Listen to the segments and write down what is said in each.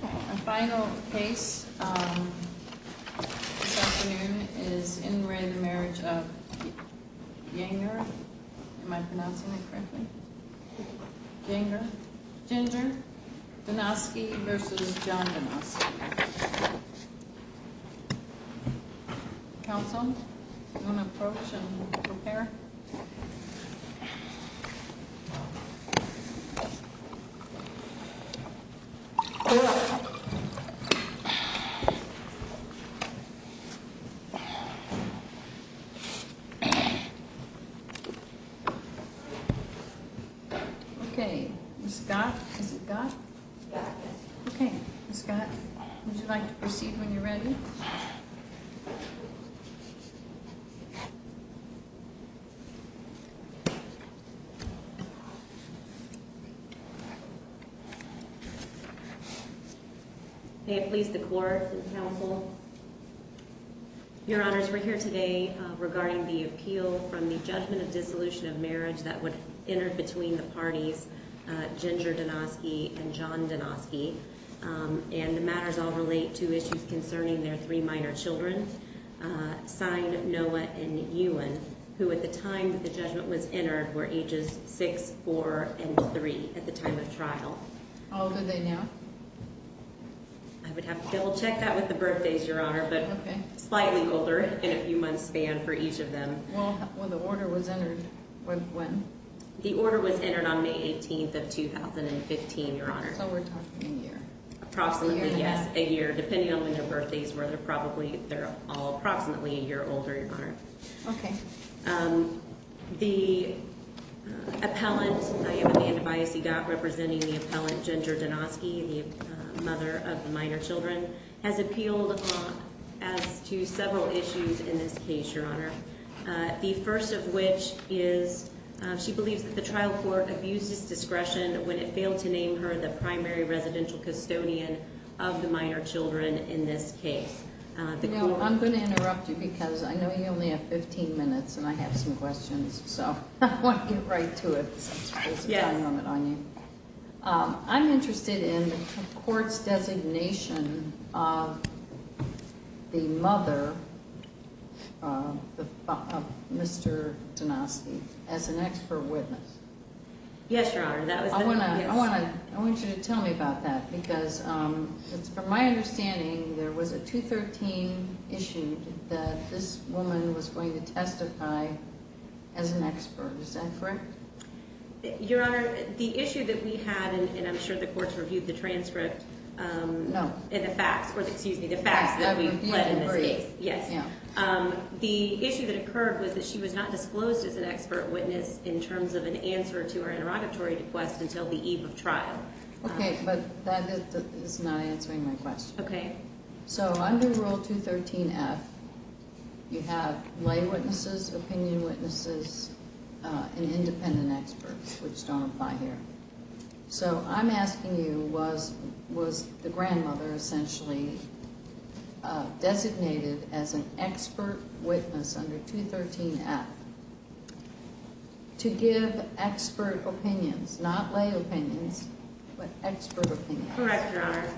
Our final case this afternoon is in re Marriage of Yanger, am I pronouncing it correctly? Yanger, Ginger, Denosky vs. John Denosky Counsel, you want to approach and prepare? Okay, Ms. Scott, would you like to proceed when you're ready? May it please the Court and Counsel Your Honors, we're here today regarding the appeal from the judgment of dissolution of marriage that would have entered between the parties Ginger Denosky and John Denosky And the matters all relate to issues concerning their three minor children, Signed Noah and Ewan, who at the time that the judgment was entered were ages 6, 4, and 3 at the time of trial How old are they now? I would have to double check that with the birthdays, Your Honor, but slightly older in a few months span for each of them Well, when the order was entered, when? The order was entered on May 18th of 2015, Your Honor So we're talking a year Approximately, yes, a year, depending on when their birthdays were, they're all approximately a year older, Your Honor Okay The appellant, I have Amanda Biasigot representing the appellant Ginger Denosky, the mother of the minor children, has appealed as to several issues in this case, Your Honor The first of which is she believes that the trial court abused its discretion when it failed to name her the primary residential custodian of the minor children in this case You know, I'm going to interrupt you because I know you only have 15 minutes and I have some questions, so I want to get right to it Yes I'm interested in the court's designation of the mother of Mr. Denosky as an expert witness Yes, Your Honor, that was the main issue I want you to tell me about that because from my understanding, there was a 213 issued that this woman was going to testify as an expert, is that correct? Your Honor, the issue that we had, and I'm sure the court's reviewed the transcript No Excuse me, the facts that we've read in this case Yes The issue that occurred was that she was not disclosed as an expert witness in terms of an answer to her interrogatory request until the eve of trial Okay, but that is not answering my question Okay So under Rule 213F, you have lay witnesses, opinion witnesses, and independent experts, which don't apply here So I'm asking you, was the grandmother essentially designated as an expert witness under 213F to give expert opinions, not lay opinions, but expert opinions? Correct, Your Honor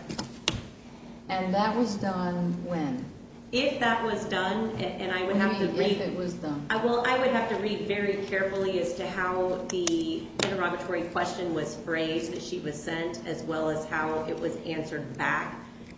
And that was done when? If that was done, and I would have to read If it was done I would have to read the phrase that she was sent as well as how it was answered back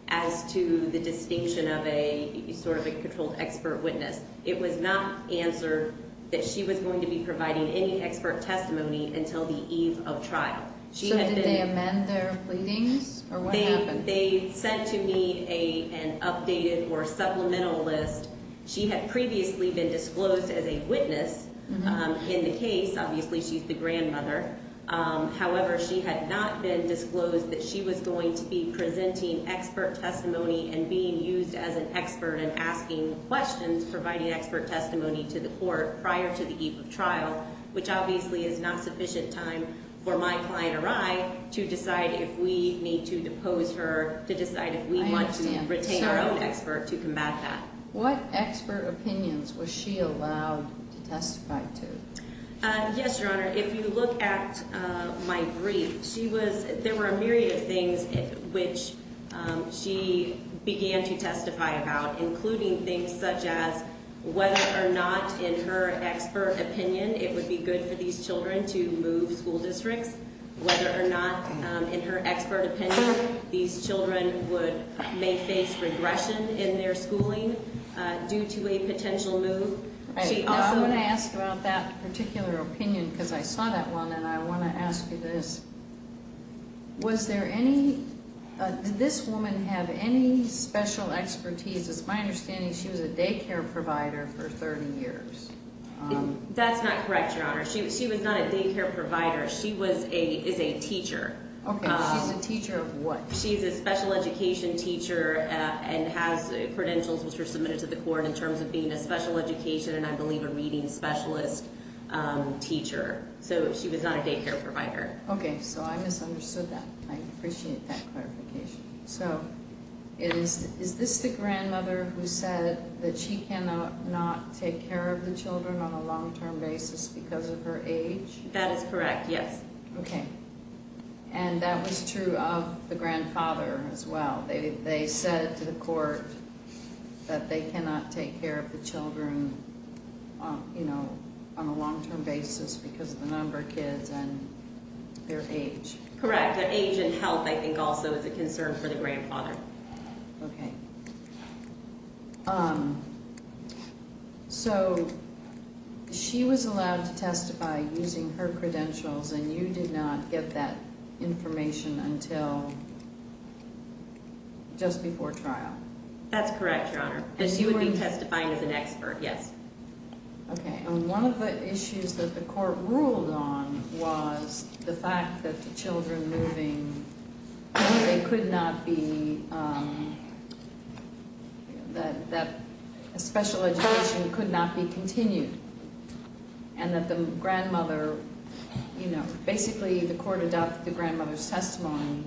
as to the distinction of a sort of a controlled expert witness It was not answered that she was going to be providing any expert testimony until the eve of trial So did they amend their pleadings, or what happened? They sent to me an updated or supplemental list She had previously been disclosed as a witness in the case, obviously she's the grandmother However, she had not been disclosed that she was going to be presenting expert testimony and being used as an expert in asking questions, providing expert testimony to the court prior to the eve of trial Which obviously is not sufficient time for my client or I to decide if we need to depose her, to decide if we want to retain our own expert to combat that What expert opinions was she allowed to testify to? Yes, Your Honor, if you look at my brief, there were a myriad of things which she began to testify about Including things such as whether or not in her expert opinion it would be good for these children to move school districts Whether or not in her expert opinion these children may face regression in their schooling due to a potential move I want to ask about that particular opinion because I saw that one and I want to ask you this Did this woman have any special expertise? It's my understanding she was a daycare provider for 30 years That's not correct, Your Honor, she was not a daycare provider, she is a teacher She's a teacher of what? She's a special education teacher and has credentials which were submitted to the court in terms of being a special education and I believe a reading specialist teacher So she was not a daycare provider Okay, so I misunderstood that, I appreciate that clarification So is this the grandmother who said that she cannot take care of the children on a long-term basis because of her age? That is correct, yes Okay, and that was true of the grandfather as well, they said to the court that they cannot take care of the children, you know, on a long-term basis because of the number of kids and their age Correct, their age and health I think also is a concern for the grandfather Okay, so she was allowed to testify using her credentials and you did not get that information until just before trial? That's correct, Your Honor, and she would be testifying as an expert, yes Okay, and one of the issues that the court ruled on was the fact that the children moving, they could not be, that a special education could not be continued And that the grandmother, you know, basically the court adopted the grandmother's testimony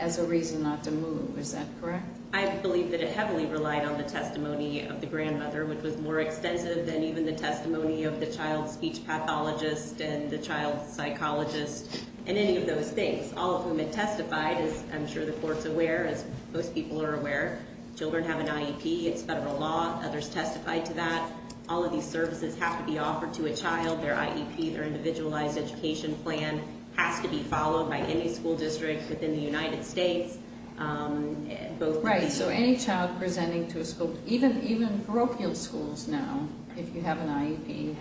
as a reason not to move, is that correct? I believe that it heavily relied on the testimony of the grandmother, which was more extensive than even the testimony of the child speech pathologist and the child psychologist And any of those things, all of whom had testified, as I'm sure the court's aware, as most people are aware Children have an IEP, it's federal law, others testified to that All of these services have to be offered to a child, their IEP, their individualized education plan has to be followed by any school district within the United States Right, so any child presenting to a school, even parochial schools now, if you have an IEP,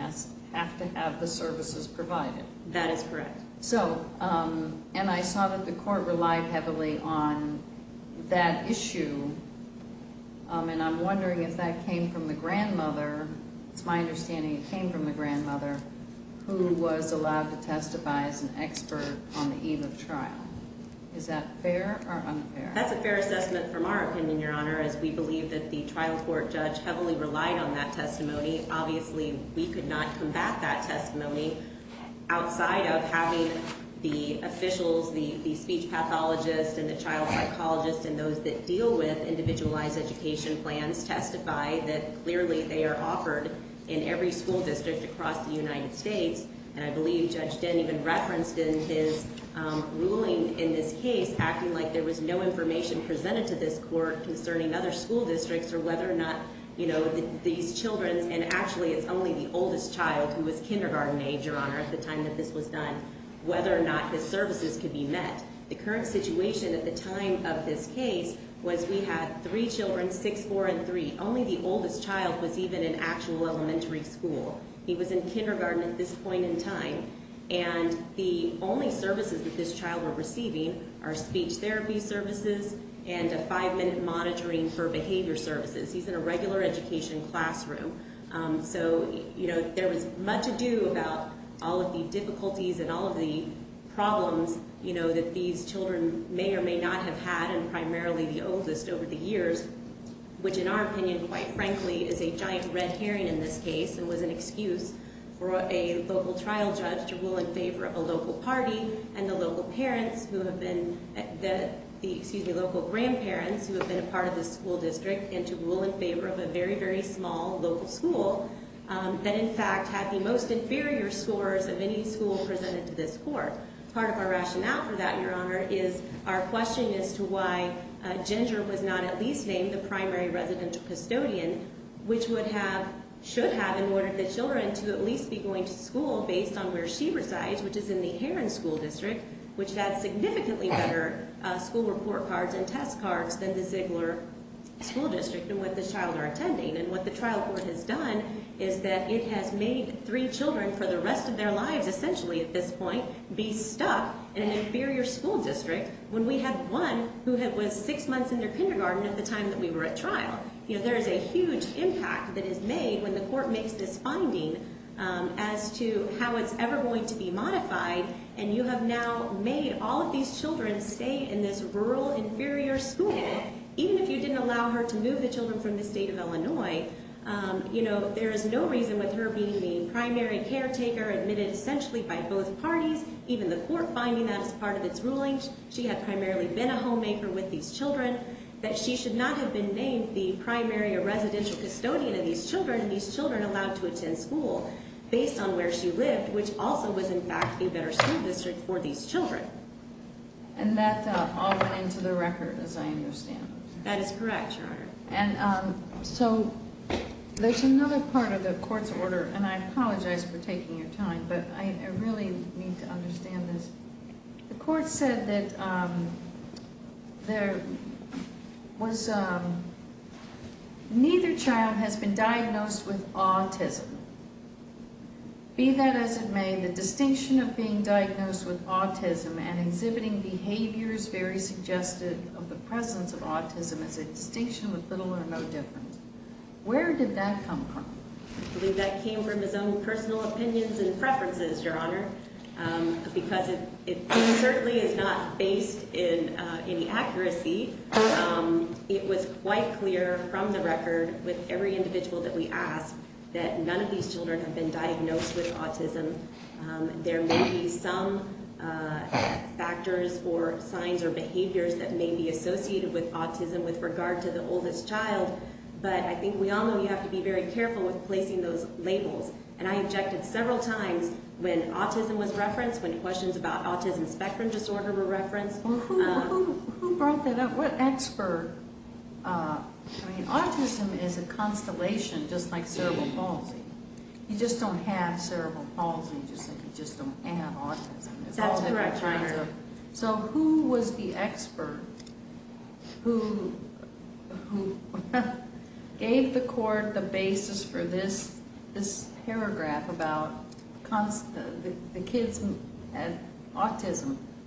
have to have the services provided That is correct So, and I saw that the court relied heavily on that issue, and I'm wondering if that came from the grandmother, it's my understanding it came from the grandmother Who was allowed to testify as an expert on the eve of trial, is that fair or unfair? That's a fair assessment from our opinion, Your Honor, as we believe that the trial court judge heavily relied on that testimony Obviously, we could not combat that testimony outside of having the officials, the speech pathologist and the child psychologist And those that deal with individualized education plans testify that clearly they are offered in every school district across the United States And I believe Judge Dent even referenced in his ruling in this case, acting like there was no information presented to this court concerning other school districts Or whether or not, you know, these children, and actually it's only the oldest child who was kindergarten age, Your Honor, at the time that this was done Whether or not his services could be met The current situation at the time of this case was we had three children, six, four, and three Only the oldest child was even in actual elementary school He was in kindergarten at this point in time And the only services that this child were receiving are speech therapy services and a five-minute monitoring for behavior services He's in a regular education classroom So, you know, there was much ado about all of the difficulties and all of the problems, you know, that these children may or may not have had And primarily the oldest over the years, which in our opinion, quite frankly, is a giant red herring in this case And was an excuse for a local trial judge to rule in favor of a local party and the local parents who have been The, excuse me, local grandparents who have been a part of this school district and to rule in favor of a very, very small local school That in fact had the most inferior scores of any school presented to this court Part of our rationale for that, Your Honor, is our question as to why Ginger was not at least named the primary residential custodian Which would have, should have, in order for the children to at least be going to school based on where she resides Which is in the Heron School District, which has significantly better school report cards and test cards than the Ziegler School District And what the child are attending and what the trial court has done is that it has made three children for the rest of their lives Essentially at this point be stuck in an inferior school district when we had one who was six months in their kindergarten at the time that we were at trial You know, there is a huge impact that is made when the court makes this finding As to how it's ever going to be modified and you have now made all of these children stay in this rural inferior school Even if you didn't allow her to move the children from the state of Illinois You know, there is no reason with her being the primary caretaker admitted essentially by both parties Even the court finding that as part of its ruling, she had primarily been a homemaker with these children That she should not have been named the primary residential custodian of these children and these children allowed to attend school Based on where she lived, which also was in fact a better school district for these children And that all went into the record as I understand That is correct, Your Honor And so, there's another part of the court's order and I apologize for taking your time But I really need to understand this The court said that neither child has been diagnosed with autism Be that as it may, the distinction of being diagnosed with autism And exhibiting behaviors very suggestive of the presence of autism is a distinction with little or no difference Where did that come from? I believe that came from his own personal opinions and preferences, Your Honor Because it certainly is not based in any accuracy It was quite clear from the record with every individual that we asked That none of these children have been diagnosed with autism There may be some factors or signs or behaviors that may be associated with autism with regard to the oldest child But I think we all know you have to be very careful with placing those labels And I objected several times when autism was referenced When questions about autism spectrum disorder were referenced Who brought that up? What expert? I mean, autism is a constellation just like cerebral palsy You just don't have cerebral palsy, you just don't have autism That's correct, Your Honor So who was the expert who gave the court the basis for this paragraph about autism?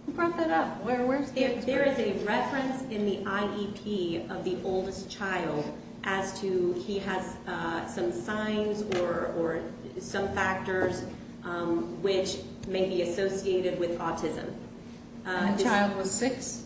Who brought that up? There is a reference in the IEP of the oldest child As to he has some signs or some factors which may be associated with autism The child was six?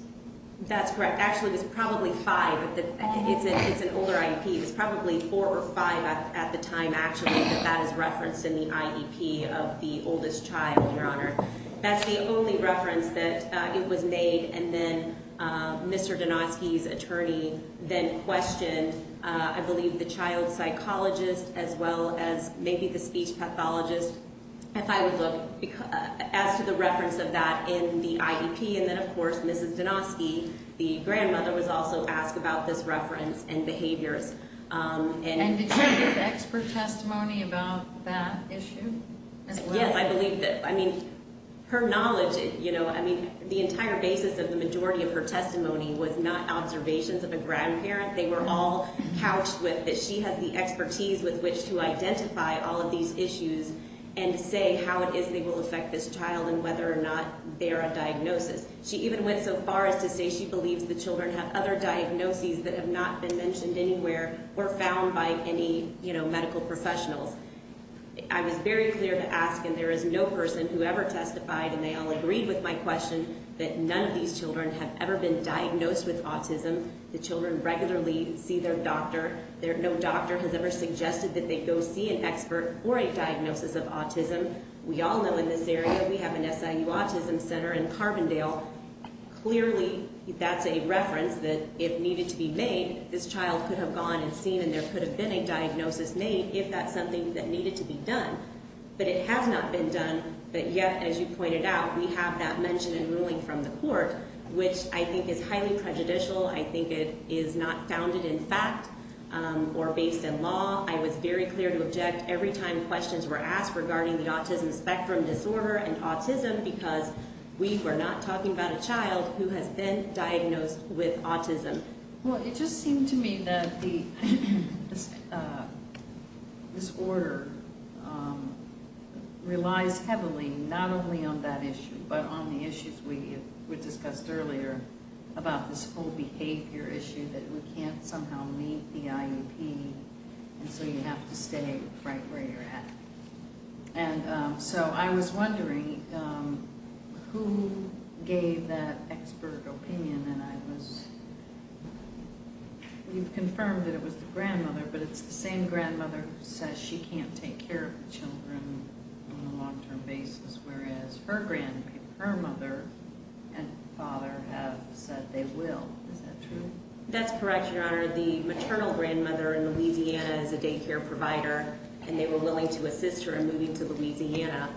That's correct, actually it was probably five It's an older IEP, it was probably four or five at the time actually That that is referenced in the IEP of the oldest child, Your Honor That's the only reference that it was made And then Mr. Donosky's attorney then questioned I believe the child psychologist as well as maybe the speech pathologist If I would look, as to the reference of that in the IEP And then of course Mrs. Donosky, the grandmother Was also asked about this reference and behaviors And did she give expert testimony about that issue as well? Yes, I believe that, I mean, her knowledge, you know I mean, the entire basis of the majority of her testimony Was not observations of a grandparent They were all couched with that she has the expertise With which to identify all of these issues And say how it is they will affect this child And whether or not they're a diagnosis She even went so far as to say she believes the children Have other diagnoses that have not been mentioned anywhere Or found by any, you know, medical professionals I was very clear to ask, and there is no person Whoever testified, and they all agreed with my question That none of these children have ever been diagnosed with autism The children regularly see their doctor No doctor has ever suggested that they go see an expert Or a diagnosis of autism We all know in this area, we have an SIU autism center In Carbondale, clearly that's a reference That if needed to be made, this child could have gone and seen And there could have been a diagnosis made If that's something that needed to be done But it has not been done, but yet, as you pointed out We have that mention in ruling from the court Which I think is highly prejudicial I think it is not founded in fact Or based in law I was very clear to object every time questions were asked Regarding the autism spectrum disorder and autism Because we were not talking about a child Who has been diagnosed with autism Well, it just seemed to me that the disorder Relies heavily, not only on that issue But on the issues we discussed earlier About this whole behavior issue That we can't somehow meet the IUP And so you have to stay right where you're at And so I was wondering Who gave that expert opinion? And I was... You've confirmed that it was the grandmother But it's the same grandmother who says She can't take care of the children on a long-term basis Whereas her mother and father have said they will Is that true? That's correct, Your Honor The maternal grandmother in Louisiana is a daycare provider And they were willing to assist her in moving to Louisiana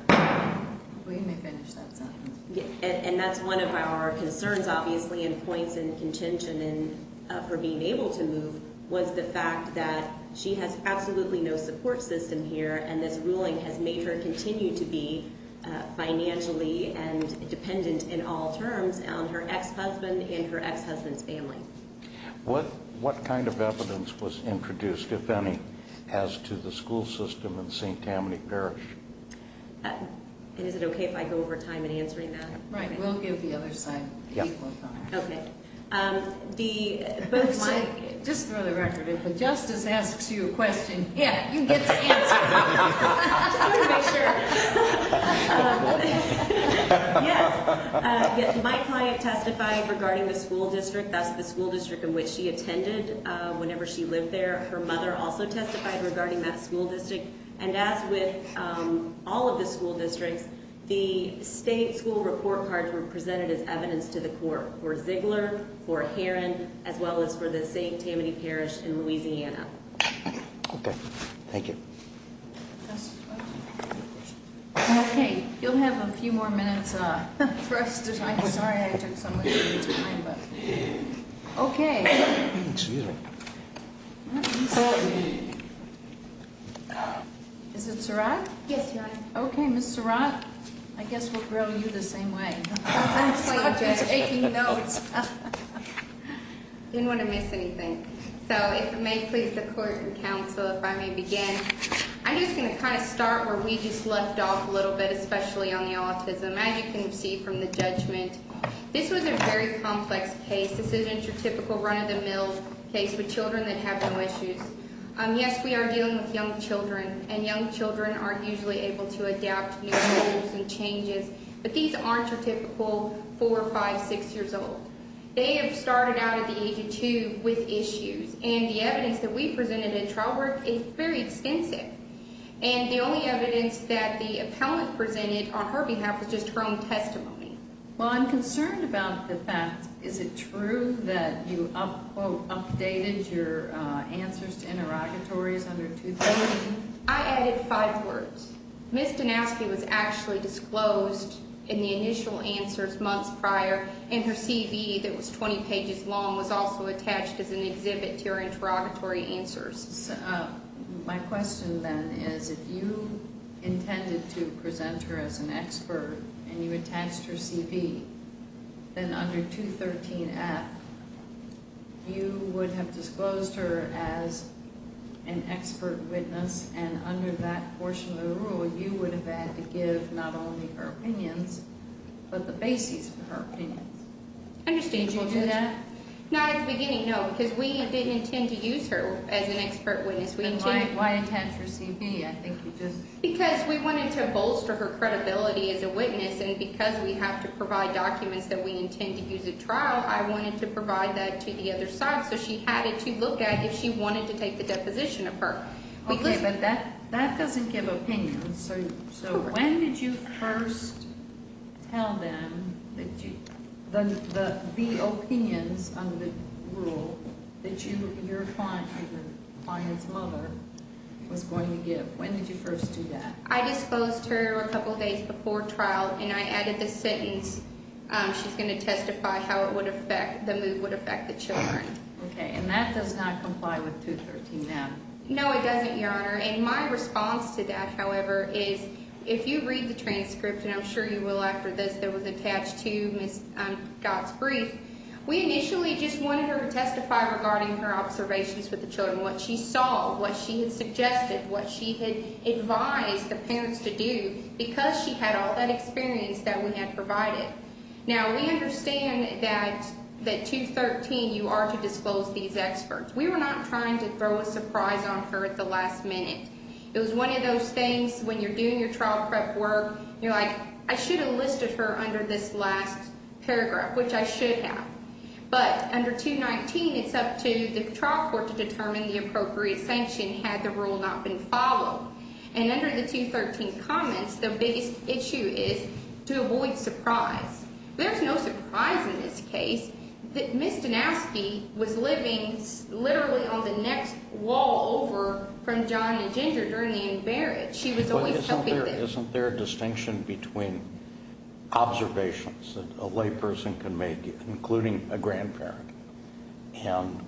Well, you may finish that sentence And that's one of our concerns, obviously And points in contention for being able to move Was the fact that she has absolutely no support system here And this ruling has made her continue to be Financially and dependent in all terms On her ex-husband and her ex-husband's family What kind of evidence was introduced, if any As to the school system in St. Tammany Parish? And is it okay if I go over time in answering that? Right, we'll give the other side equal time Okay, the... Just throw the record in If the justice asks you a question Yeah, you get to answer it Just to be sure Yes My client testified regarding the school district That's the school district in which she attended Whenever she lived there Her mother also testified regarding that school district And as with all of the school districts The state school report cards were presented As evidence to the court For Ziegler, for Heron As well as for the St. Tammany Parish in Louisiana Okay, thank you Okay, you'll have a few more minutes For us to talk I'm sorry I took so much of your time Okay Is it Surratt? Yes, Your Honor Okay, Ms. Surratt I guess we'll grill you the same way I'm taking notes Didn't want to miss anything So if it may please the court and counsel If I may begin I'm just going to kind of start Where we just left off a little bit Especially on the autism As you can see from the judgment This was a very complex case This isn't your typical run-of-the-mill case With children that have no issues Yes, we are dealing with young children And young children aren't usually able To adapt to new rules and changes But these aren't your typical Four, five, six years old They have started out at the age of two With issues And the evidence that we presented And the only evidence That the appellant presented On her behalf Was just her own testimony Well, I'm concerned about the fact Is it true that you Quote, updated your answers To interrogatories under 2018? I added five words Ms. Donowski was actually disclosed In the initial answers Months prior And her CV that was 20 pages long Was also attached as an exhibit To her interrogatory answers Which means if you Intended to present her As an expert And you attached her CV Then under 213F You would have disclosed her As an expert witness And under that portion of the rule You would have had to give Not only her opinions But the basis for her opinions Understandable Did you do that? Not at the beginning, no Because we didn't intend to use her But you just Because we wanted to bolster Her credibility as a witness And because we have to provide Documents that we intend To use at trial I wanted to provide that To the other side So she had it to look at If she wanted to take The deposition of her Okay, but that doesn't Give opinions So when did you first Tell them When did you first do that? I disclosed her a couple of days Before trial And I added the sentence She's going to testify How it would affect The move would affect the children Okay, and that does not Comply with 213F No, it doesn't, Your Honor And my response to that, however Is if you read the transcript And I'm sure you will After this that was attached To Ms. Scott's brief That she advised the parents To do because she had All that experience That we had provided Now we understand that That 213 you are to Disclose these experts We were not trying to Throw a surprise on her At the last minute It was one of those things When you're doing your Trial prep work You're like I should have Listed her under this last And under the 213 comments The biggest issue is To avoid surprise There's no surprise in this case That Ms. Donasky Was living literally On the next wall over From John and Ginger During the embarrassment Isn't there a distinction Between observations That a layperson can make Including a grandparent And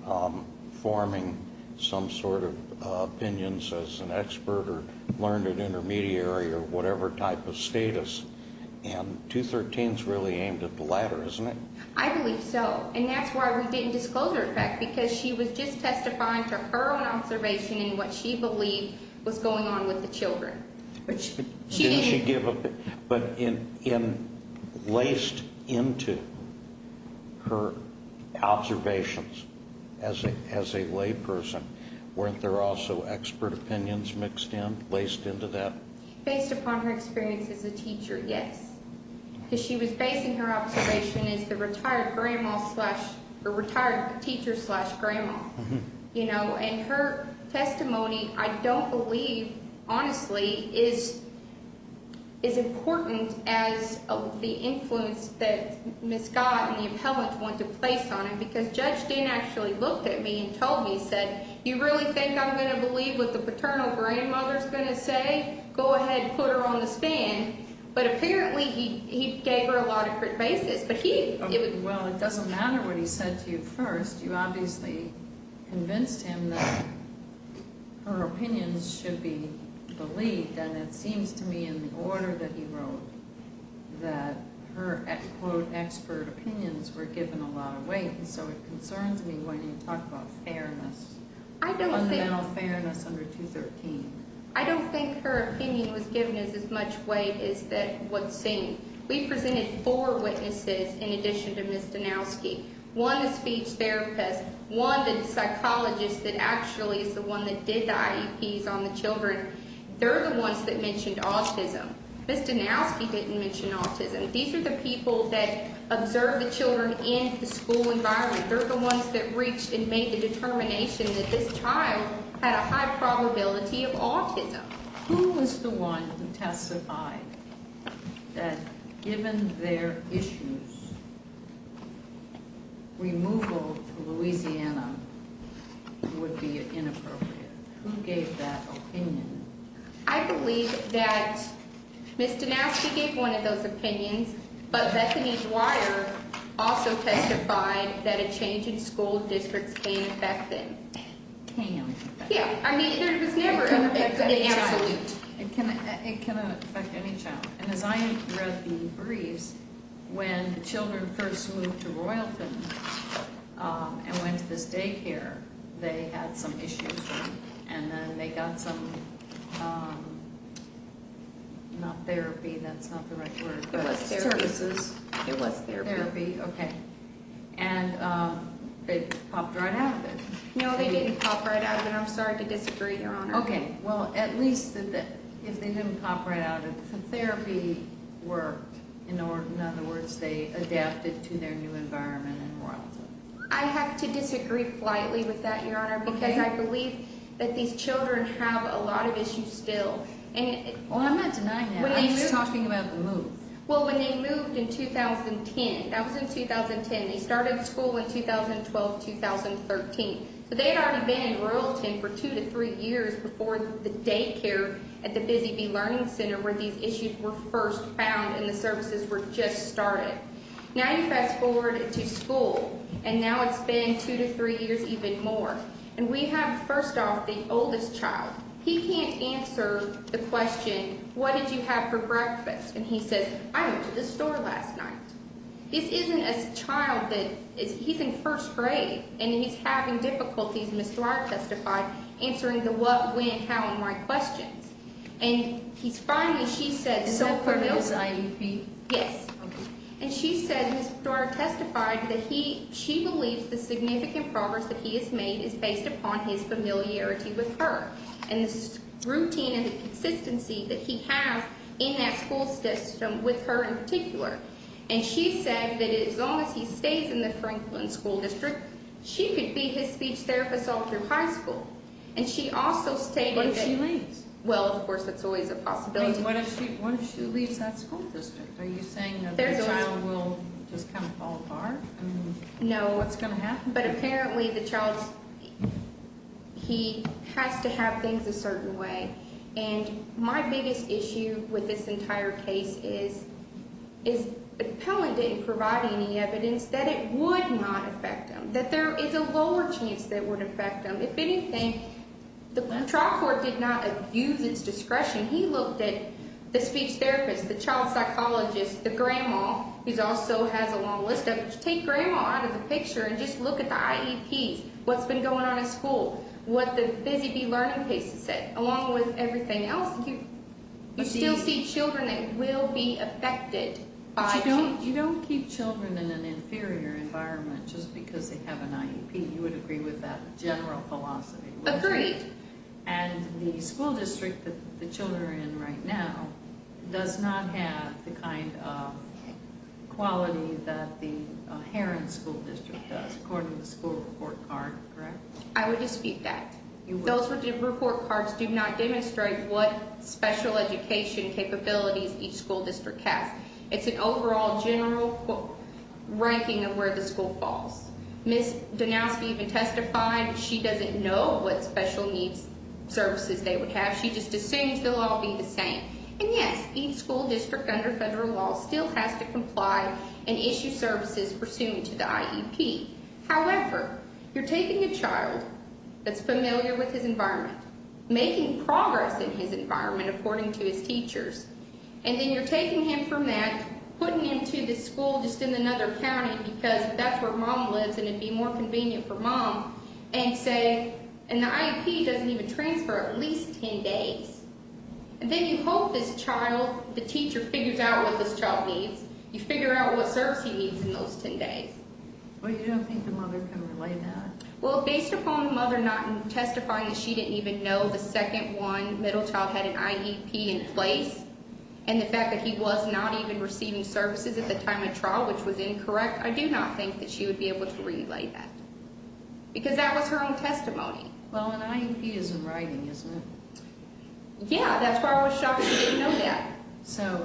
forming some sort of Opinions as an expert Or as a learned Intermediary or whatever Type of status And 213 is really aimed At the latter isn't it I believe so And that's why we didn't Disclose her in fact Because she was just Testifying to her own Observation and what she Believed was going on With the children But in laced into Her observations Based upon her experience As a teacher yes Because she was basing Her observation as the Retired teacher slash Grandma you know And her testimony I don't believe honestly Is as important As the influence That Ms. Scott And the appellant Want to place on it Because Judge Dean Actually looked at me And said okay Go ahead put her on the stand But apparently he gave Her a lot of basis Well it doesn't matter What he said to you first You obviously convinced him That her opinions Should be believed And it seems to me In the order that he wrote That her quote expert Opinions were given A lot of weight So it concerns me That her opinion Was given as much weight As what seemed We presented four witnesses In addition to Ms. Danowski One the speech therapist One the psychologist That actually is the one That did the IEPs on the children They're the ones that Mentioned autism Ms. Danowski didn't mention autism These are the people That observed the children In the school environment Who was the one That testified That given their issues Removal to Louisiana Would be inappropriate Who gave that opinion I believe that Ms. Danowski gave One of those opinions But Bethany Dwyer Also testified That a change in school Districts came in effect Came in effect Yeah I mean It can affect any child And as I read the briefs When the children First moved to Royalton And went to this daycare They had some issues And then they got some Not therapy That's not the right word But services It was therapy No they didn't pop right out of it I'm sorry to disagree your honor Okay well at least If they didn't pop right out If the therapy worked In other words They adapted to their new environment In Royalton I have to disagree politely With that your honor Because I believe That these children Have a lot of issues still Well I'm not denying that I'm just talking about the move Well when they moved in 2010 That was in 2010 Before the daycare At the Busy Bee Learning Center Where these issues were first found And the services were just started Now you fast forward to school And now it's been Two to three years even more And we have first off The oldest child He can't answer the question What did you have for breakfast And he says I went to the store last night This isn't a child He's in first grade And he's having difficulties Understanding how and why questions And he's finally She said Yes And she said That he she believes The significant progress That he has made Is based upon his familiarity With her and this routine And consistency that he has In that school system With her in particular And she said that as long as He stays in the Franklin What if she leaves Well of course that's always a possibility What if she leaves that school district Are you saying that the child Will just kind of fall apart No What's going to happen But apparently the child He has to have things a certain way And my biggest issue With this entire case is Is the penalty Providing any evidence That it would not affect him That there is a lower chance That it would affect him If anything The trial court did not Abuse its discretion He looked at the speech therapist The child psychologist The grandma who also has a long list Take grandma out of the picture And just look at the IEP What's been going on in school What the Busy Bee Learning Case has said Along with everything else You still see children That will be affected But you don't keep children Because that's not That general philosophy Agreed And the school district That the children are in right now Does not have the kind of Quality that the Heron School District does According to the school report card Correct I would dispute that Those report cards do not Demonstrate what special education Capabilities each school district has It's an overall general She doesn't know What special needs services They would have She just assumes they'll all be the same And yes, each school district Under federal law Still has to comply And issue services Pursuant to the IEP However, you're taking a child That's familiar with his environment Making progress in his environment According to his teachers And then you're taking him from that Putting him to the school And say And the IEP doesn't even transfer At least 10 days And then you hope this child The teacher figures out What this child needs You figure out what service He needs in those 10 days Well, you don't think the mother Can relate that Well, based upon the mother Not testifying that she didn't Even know the second one Middle child had an IEP in place And the fact that he was Not her own testimony Well, an IEP is in writing, isn't it? Yeah, that's why I was shocked She didn't know that So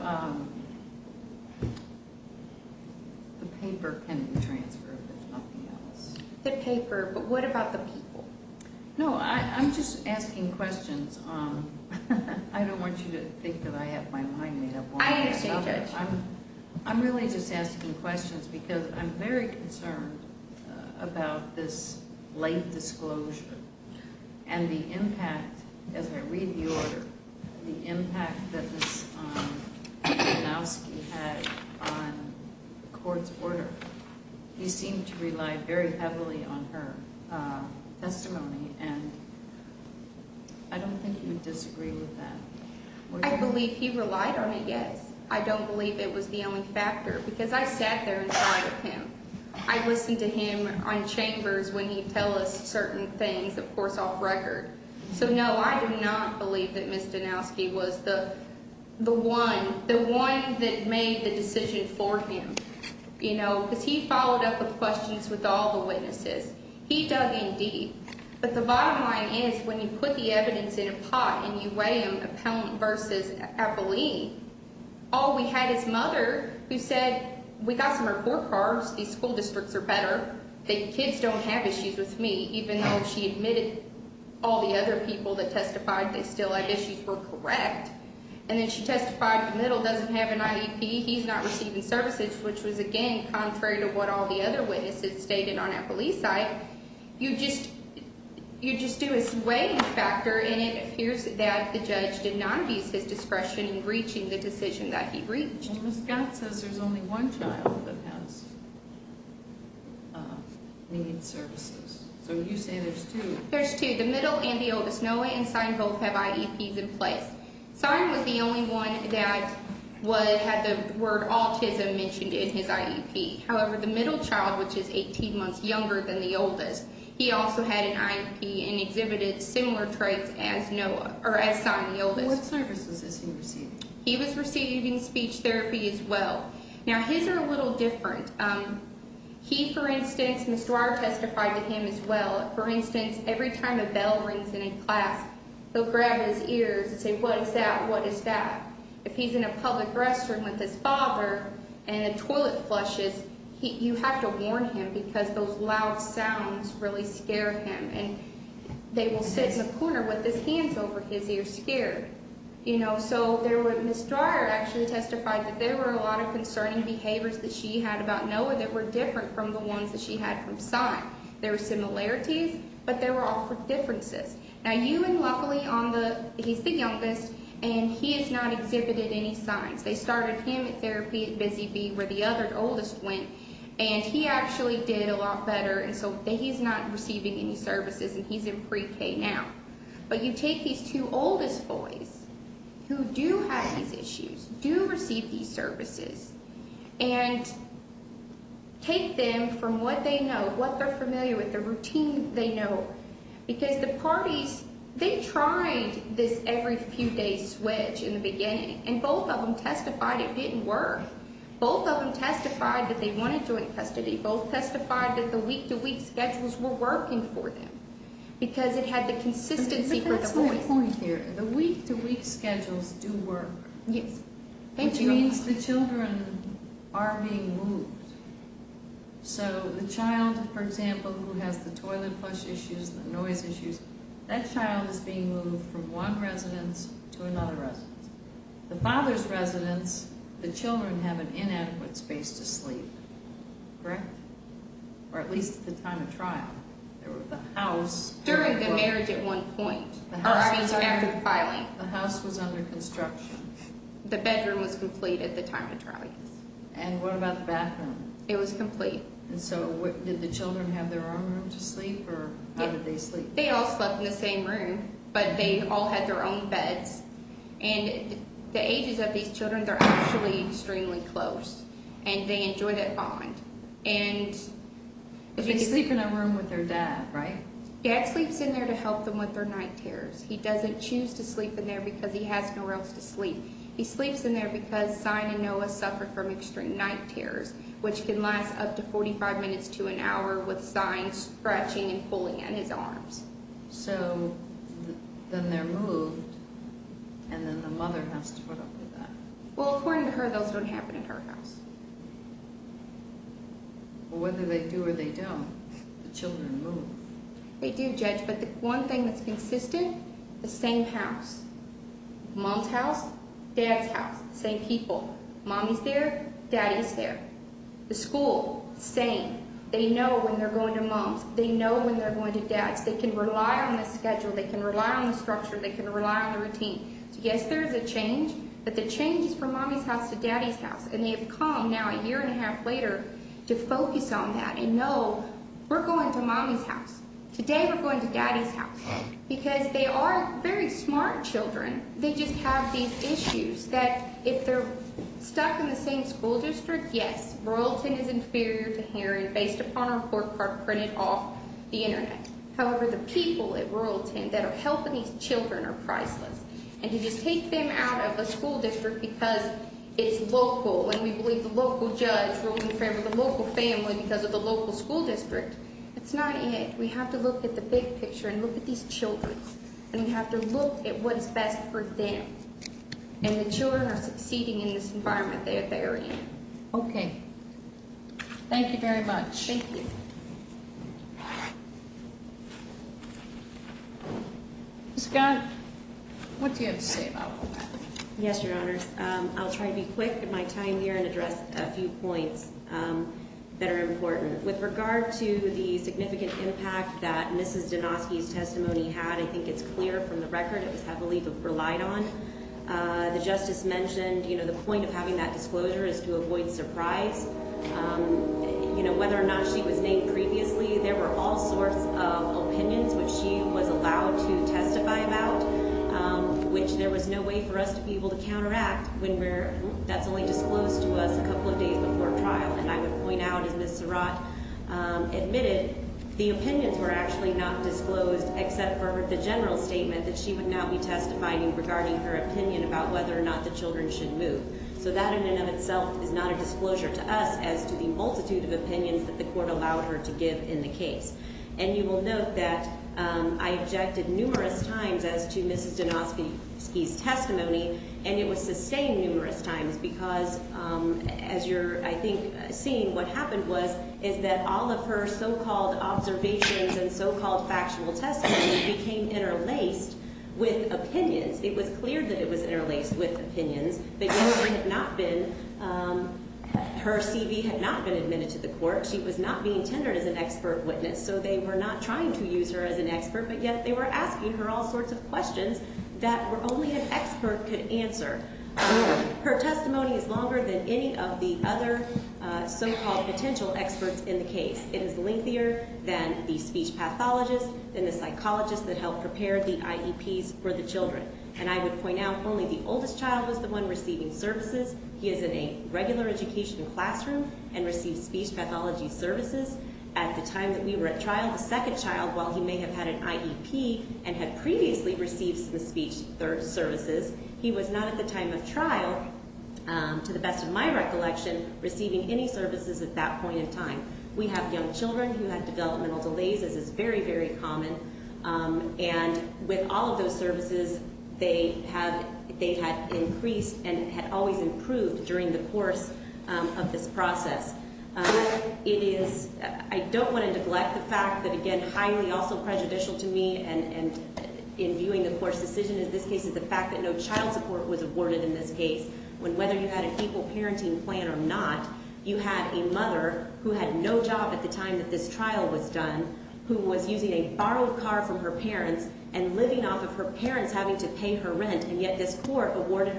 The paper can be transferred If there's nothing else The paper But what about the people? No, I'm just asking questions I don't want you to think That I have my mind made up I understand, Judge I'm really just asking questions Because I'm very concerned About the disclosure And the impact As I read the order The impact that this Janowski had On the court's order He seemed to rely very heavily On her testimony And I don't think you would Disagree with that I believe he relied on it, yes I don't believe it was the only factor Because I sat there inside of him I listened to him on chambers And certain things, of course, off record So, no, I do not believe That Ms. Janowski was the The one The one that made the decision for him You know, because he followed up With questions with all the witnesses He dug in deep But the bottom line is When you put the evidence in a pot And you weigh him, appellant versus appellee All we had is mother Who said, we got some report cards These school districts are better The kids don't have issues with me She admitted All the other people that testified They still have issues We're correct And then she testified The middle doesn't have an IEP He's not receiving services Which was, again, contrary To what all the other witnesses Stated on that police site You just You just do a weighting factor And it appears that the judge Did not use his discretion In reaching the decision There's two There's two, the middle and the oldest Noah and Sine both have IEPs in place Sine was the only one That had the word autism Mentioned in his IEP However, the middle child Which is 18 months younger than the oldest He also had an IEP And exhibited similar traits As Sine, the oldest What services is he receiving? He was receiving speech therapy as well Now his are a little different He, for instance Every time a bell rings in a class He'll grab his ears And say, what is that? What is that? If he's in a public restroom With his father And the toilet flushes You have to warn him Because those loud sounds Really scare him And they will sit in the corner With his hands over his ear scared You know, so there were Ms. Dreyer actually testified That there were a lot of Differences Now you and Luckily He's the youngest And he has not exhibited any signs They started him at therapy At Busy B where the other oldest went And he actually did a lot better And so he's not receiving any services And he's in Pre-K now But you take these two oldest boys Who do have these issues Do receive these services And take them from what they know What they're familiar with The routine they know Because the parties They tried this every few days Switch in the beginning And both of them testified It didn't work Both of them testified That they wanted joint custody Both testified that the week-to-week Schedules were working for them Because it had the consistency For the boys But that's my point here The week-to-week schedules do work Which means the children As well as the toilet flush issues The noise issues That child is being moved From one residence to another residence The father's residence The children have an inadequate space to sleep Correct? Or at least at the time of trial The house During the marriage at one point After the filing The house was under construction The bedroom was complete At the time of trial And what about the bathroom Did they all go to sleep Or how did they sleep They all slept in the same room But they all had their own beds And the ages of these children They're actually extremely close And they enjoy that bond But they sleep in a room With their dad, right? Dad sleeps in there To help them with their night terrors He doesn't choose to sleep in there Because he has nowhere else to sleep He sleeps in there Because Sign and Noah Are scratching and pulling at his arms So Then they're moved And then the mother has to put up with that Well, according to her Those don't happen in her house Whether they do or they don't The children move They do, Judge But the one thing that's consistent The same house Mom's house, dad's house Same people Mommy's there, daddy's there The school, same They know when they're going to dad's They can rely on the schedule They can rely on the structure They can rely on the routine Yes, there's a change But the change is from mommy's house To daddy's house And they have come now A year and a half later To focus on that And know we're going to mommy's house Today we're going to daddy's house Because they are very smart children They just have these issues That if they're stuck in the same school district The internet However, the people at Royalton That are helping these children are priceless And to just take them out of the school district Because it's local And we believe the local judge Roles in favor of the local family Because of the local school district It's not it We have to look at the big picture And look at these children And we have to look at what's best for them And the children are succeeding In this environment that they're in Okay, thank you very much Thank you Scott What do you have to say about all that? Yes, your honors I'll try to be quick in my time here And address a few points That are important With regard to the significant impact That Mrs. Donosky's testimony had I think it's clear from the record It was heavily relied on The justice mentioned The point of having that disclosure Is to avoid surprise You know, whether or not She was named previously There were all sorts of opinions Which she was allowed to testify about Which there was no way For us to be able to counteract When that's only disclosed to us A couple of days before trial And I would point out As Ms. Surratt admitted The opinions were actually not disclosed Except for the general statement That she would not be testifying Regarding her opinion About whether or not the children should move And thus as to the multitude Of opinions that the court Allowed her to give in the case And you will note that I objected numerous times As to Mrs. Donosky's testimony And it was sustained numerous times Because as you're, I think, seeing What happened was Is that all of her so-called observations And so-called factual testimony Became interlaced with opinions It was clear that it was interlaced With opinions That her CV had not been Admitted to the court She was not being tendered As an expert witness So they were not trying to use her as an expert But yet they were asking her All sorts of questions That only an expert could answer Her testimony is longer Than any of the other So-called potential experts in the case It is lengthier Than the speech pathologist Than the psychologist That helped prepare the IEPs For receiving services He is in a regular education classroom And receives speech pathology services At the time that we were at trial The second child While he may have had an IEP And had previously received Some speech services He was not at the time of trial To the best of my recollection Receiving any services At that point in time We have young children Who have developmental delays As is very, very common And had always improved During the course of this process It is I don't want to neglect the fact That again highly also prejudicial to me And in viewing the court's decision In this case is the fact That no child support was awarded in this case When whether you had An equal parenting plan or not You had a mother Who had no job at the time That this trial was done Who was using a borrowed car From her parents And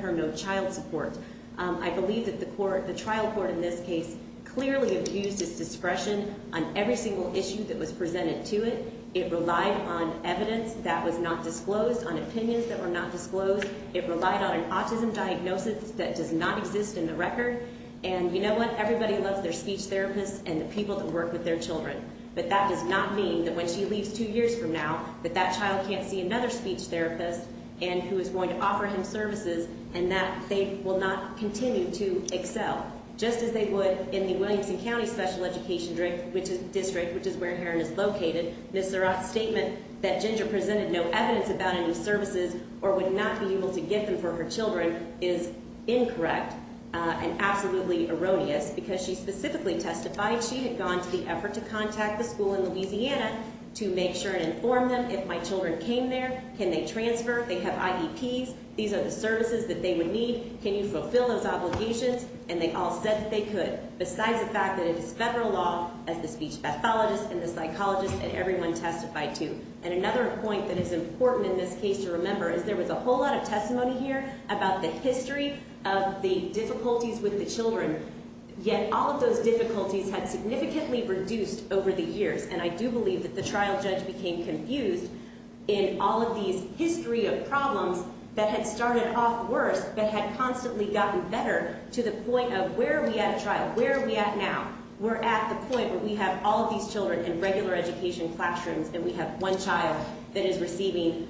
had no child support I believe that the court The trial court in this case Clearly abused its discretion On every single issue That was presented to it It relied on evidence That was not disclosed On opinions that were not disclosed It relied on an autism diagnosis That does not exist in the record And you know what Everybody loves their speech therapists And the people that work with their children But that does not mean That they will not continue to excel Just as they would In the Williamson County Special Education District Which is where Heron is located Ms. Surratt's statement That Ginger presented no evidence About any services Or would not be able to get them for her children Is incorrect And absolutely erroneous Because she specifically testified She had gone to the effort To contact the school in Louisiana To make sure and inform them If my children came there That they could continue To fulfill those obligations And they all said that they could Besides the fact that it is federal law As the speech pathologist And the psychologist And everyone testified to And another point that is important In this case to remember Is there was a whole lot of testimony here About the history Of the difficulties with the children Yet all of those difficulties Had significantly reduced over the years And I do believe That we have ultimately gotten better To the point of where are we at a trial Where are we at now We're at the point where we have All of these children In regular education classrooms And we have one child That is receiving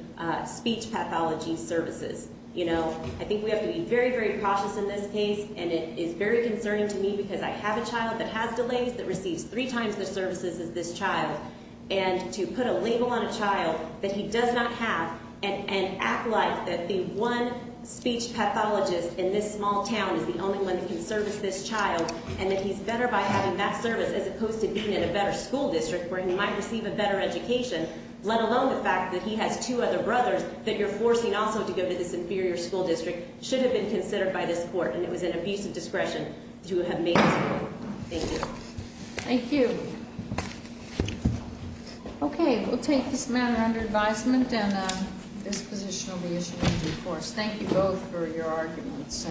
speech pathology services You know, I think we have to be Very, very cautious in this case And it is very concerning to me Because I have a child that has delays That receives three times the services As this child And to put a label on a child That this small town Is the only one that can service this child And that he's better by having that service As opposed to being in a better school district Where he might receive a better education Let alone the fact that he has two other brothers That you're forcing also to go To this inferior school district Should have been considered by this court And it was an abuse of discretion To have made this court Thank you Okay, we'll take this matter under advisement And this position will be issued in due course Thank you both for your arguments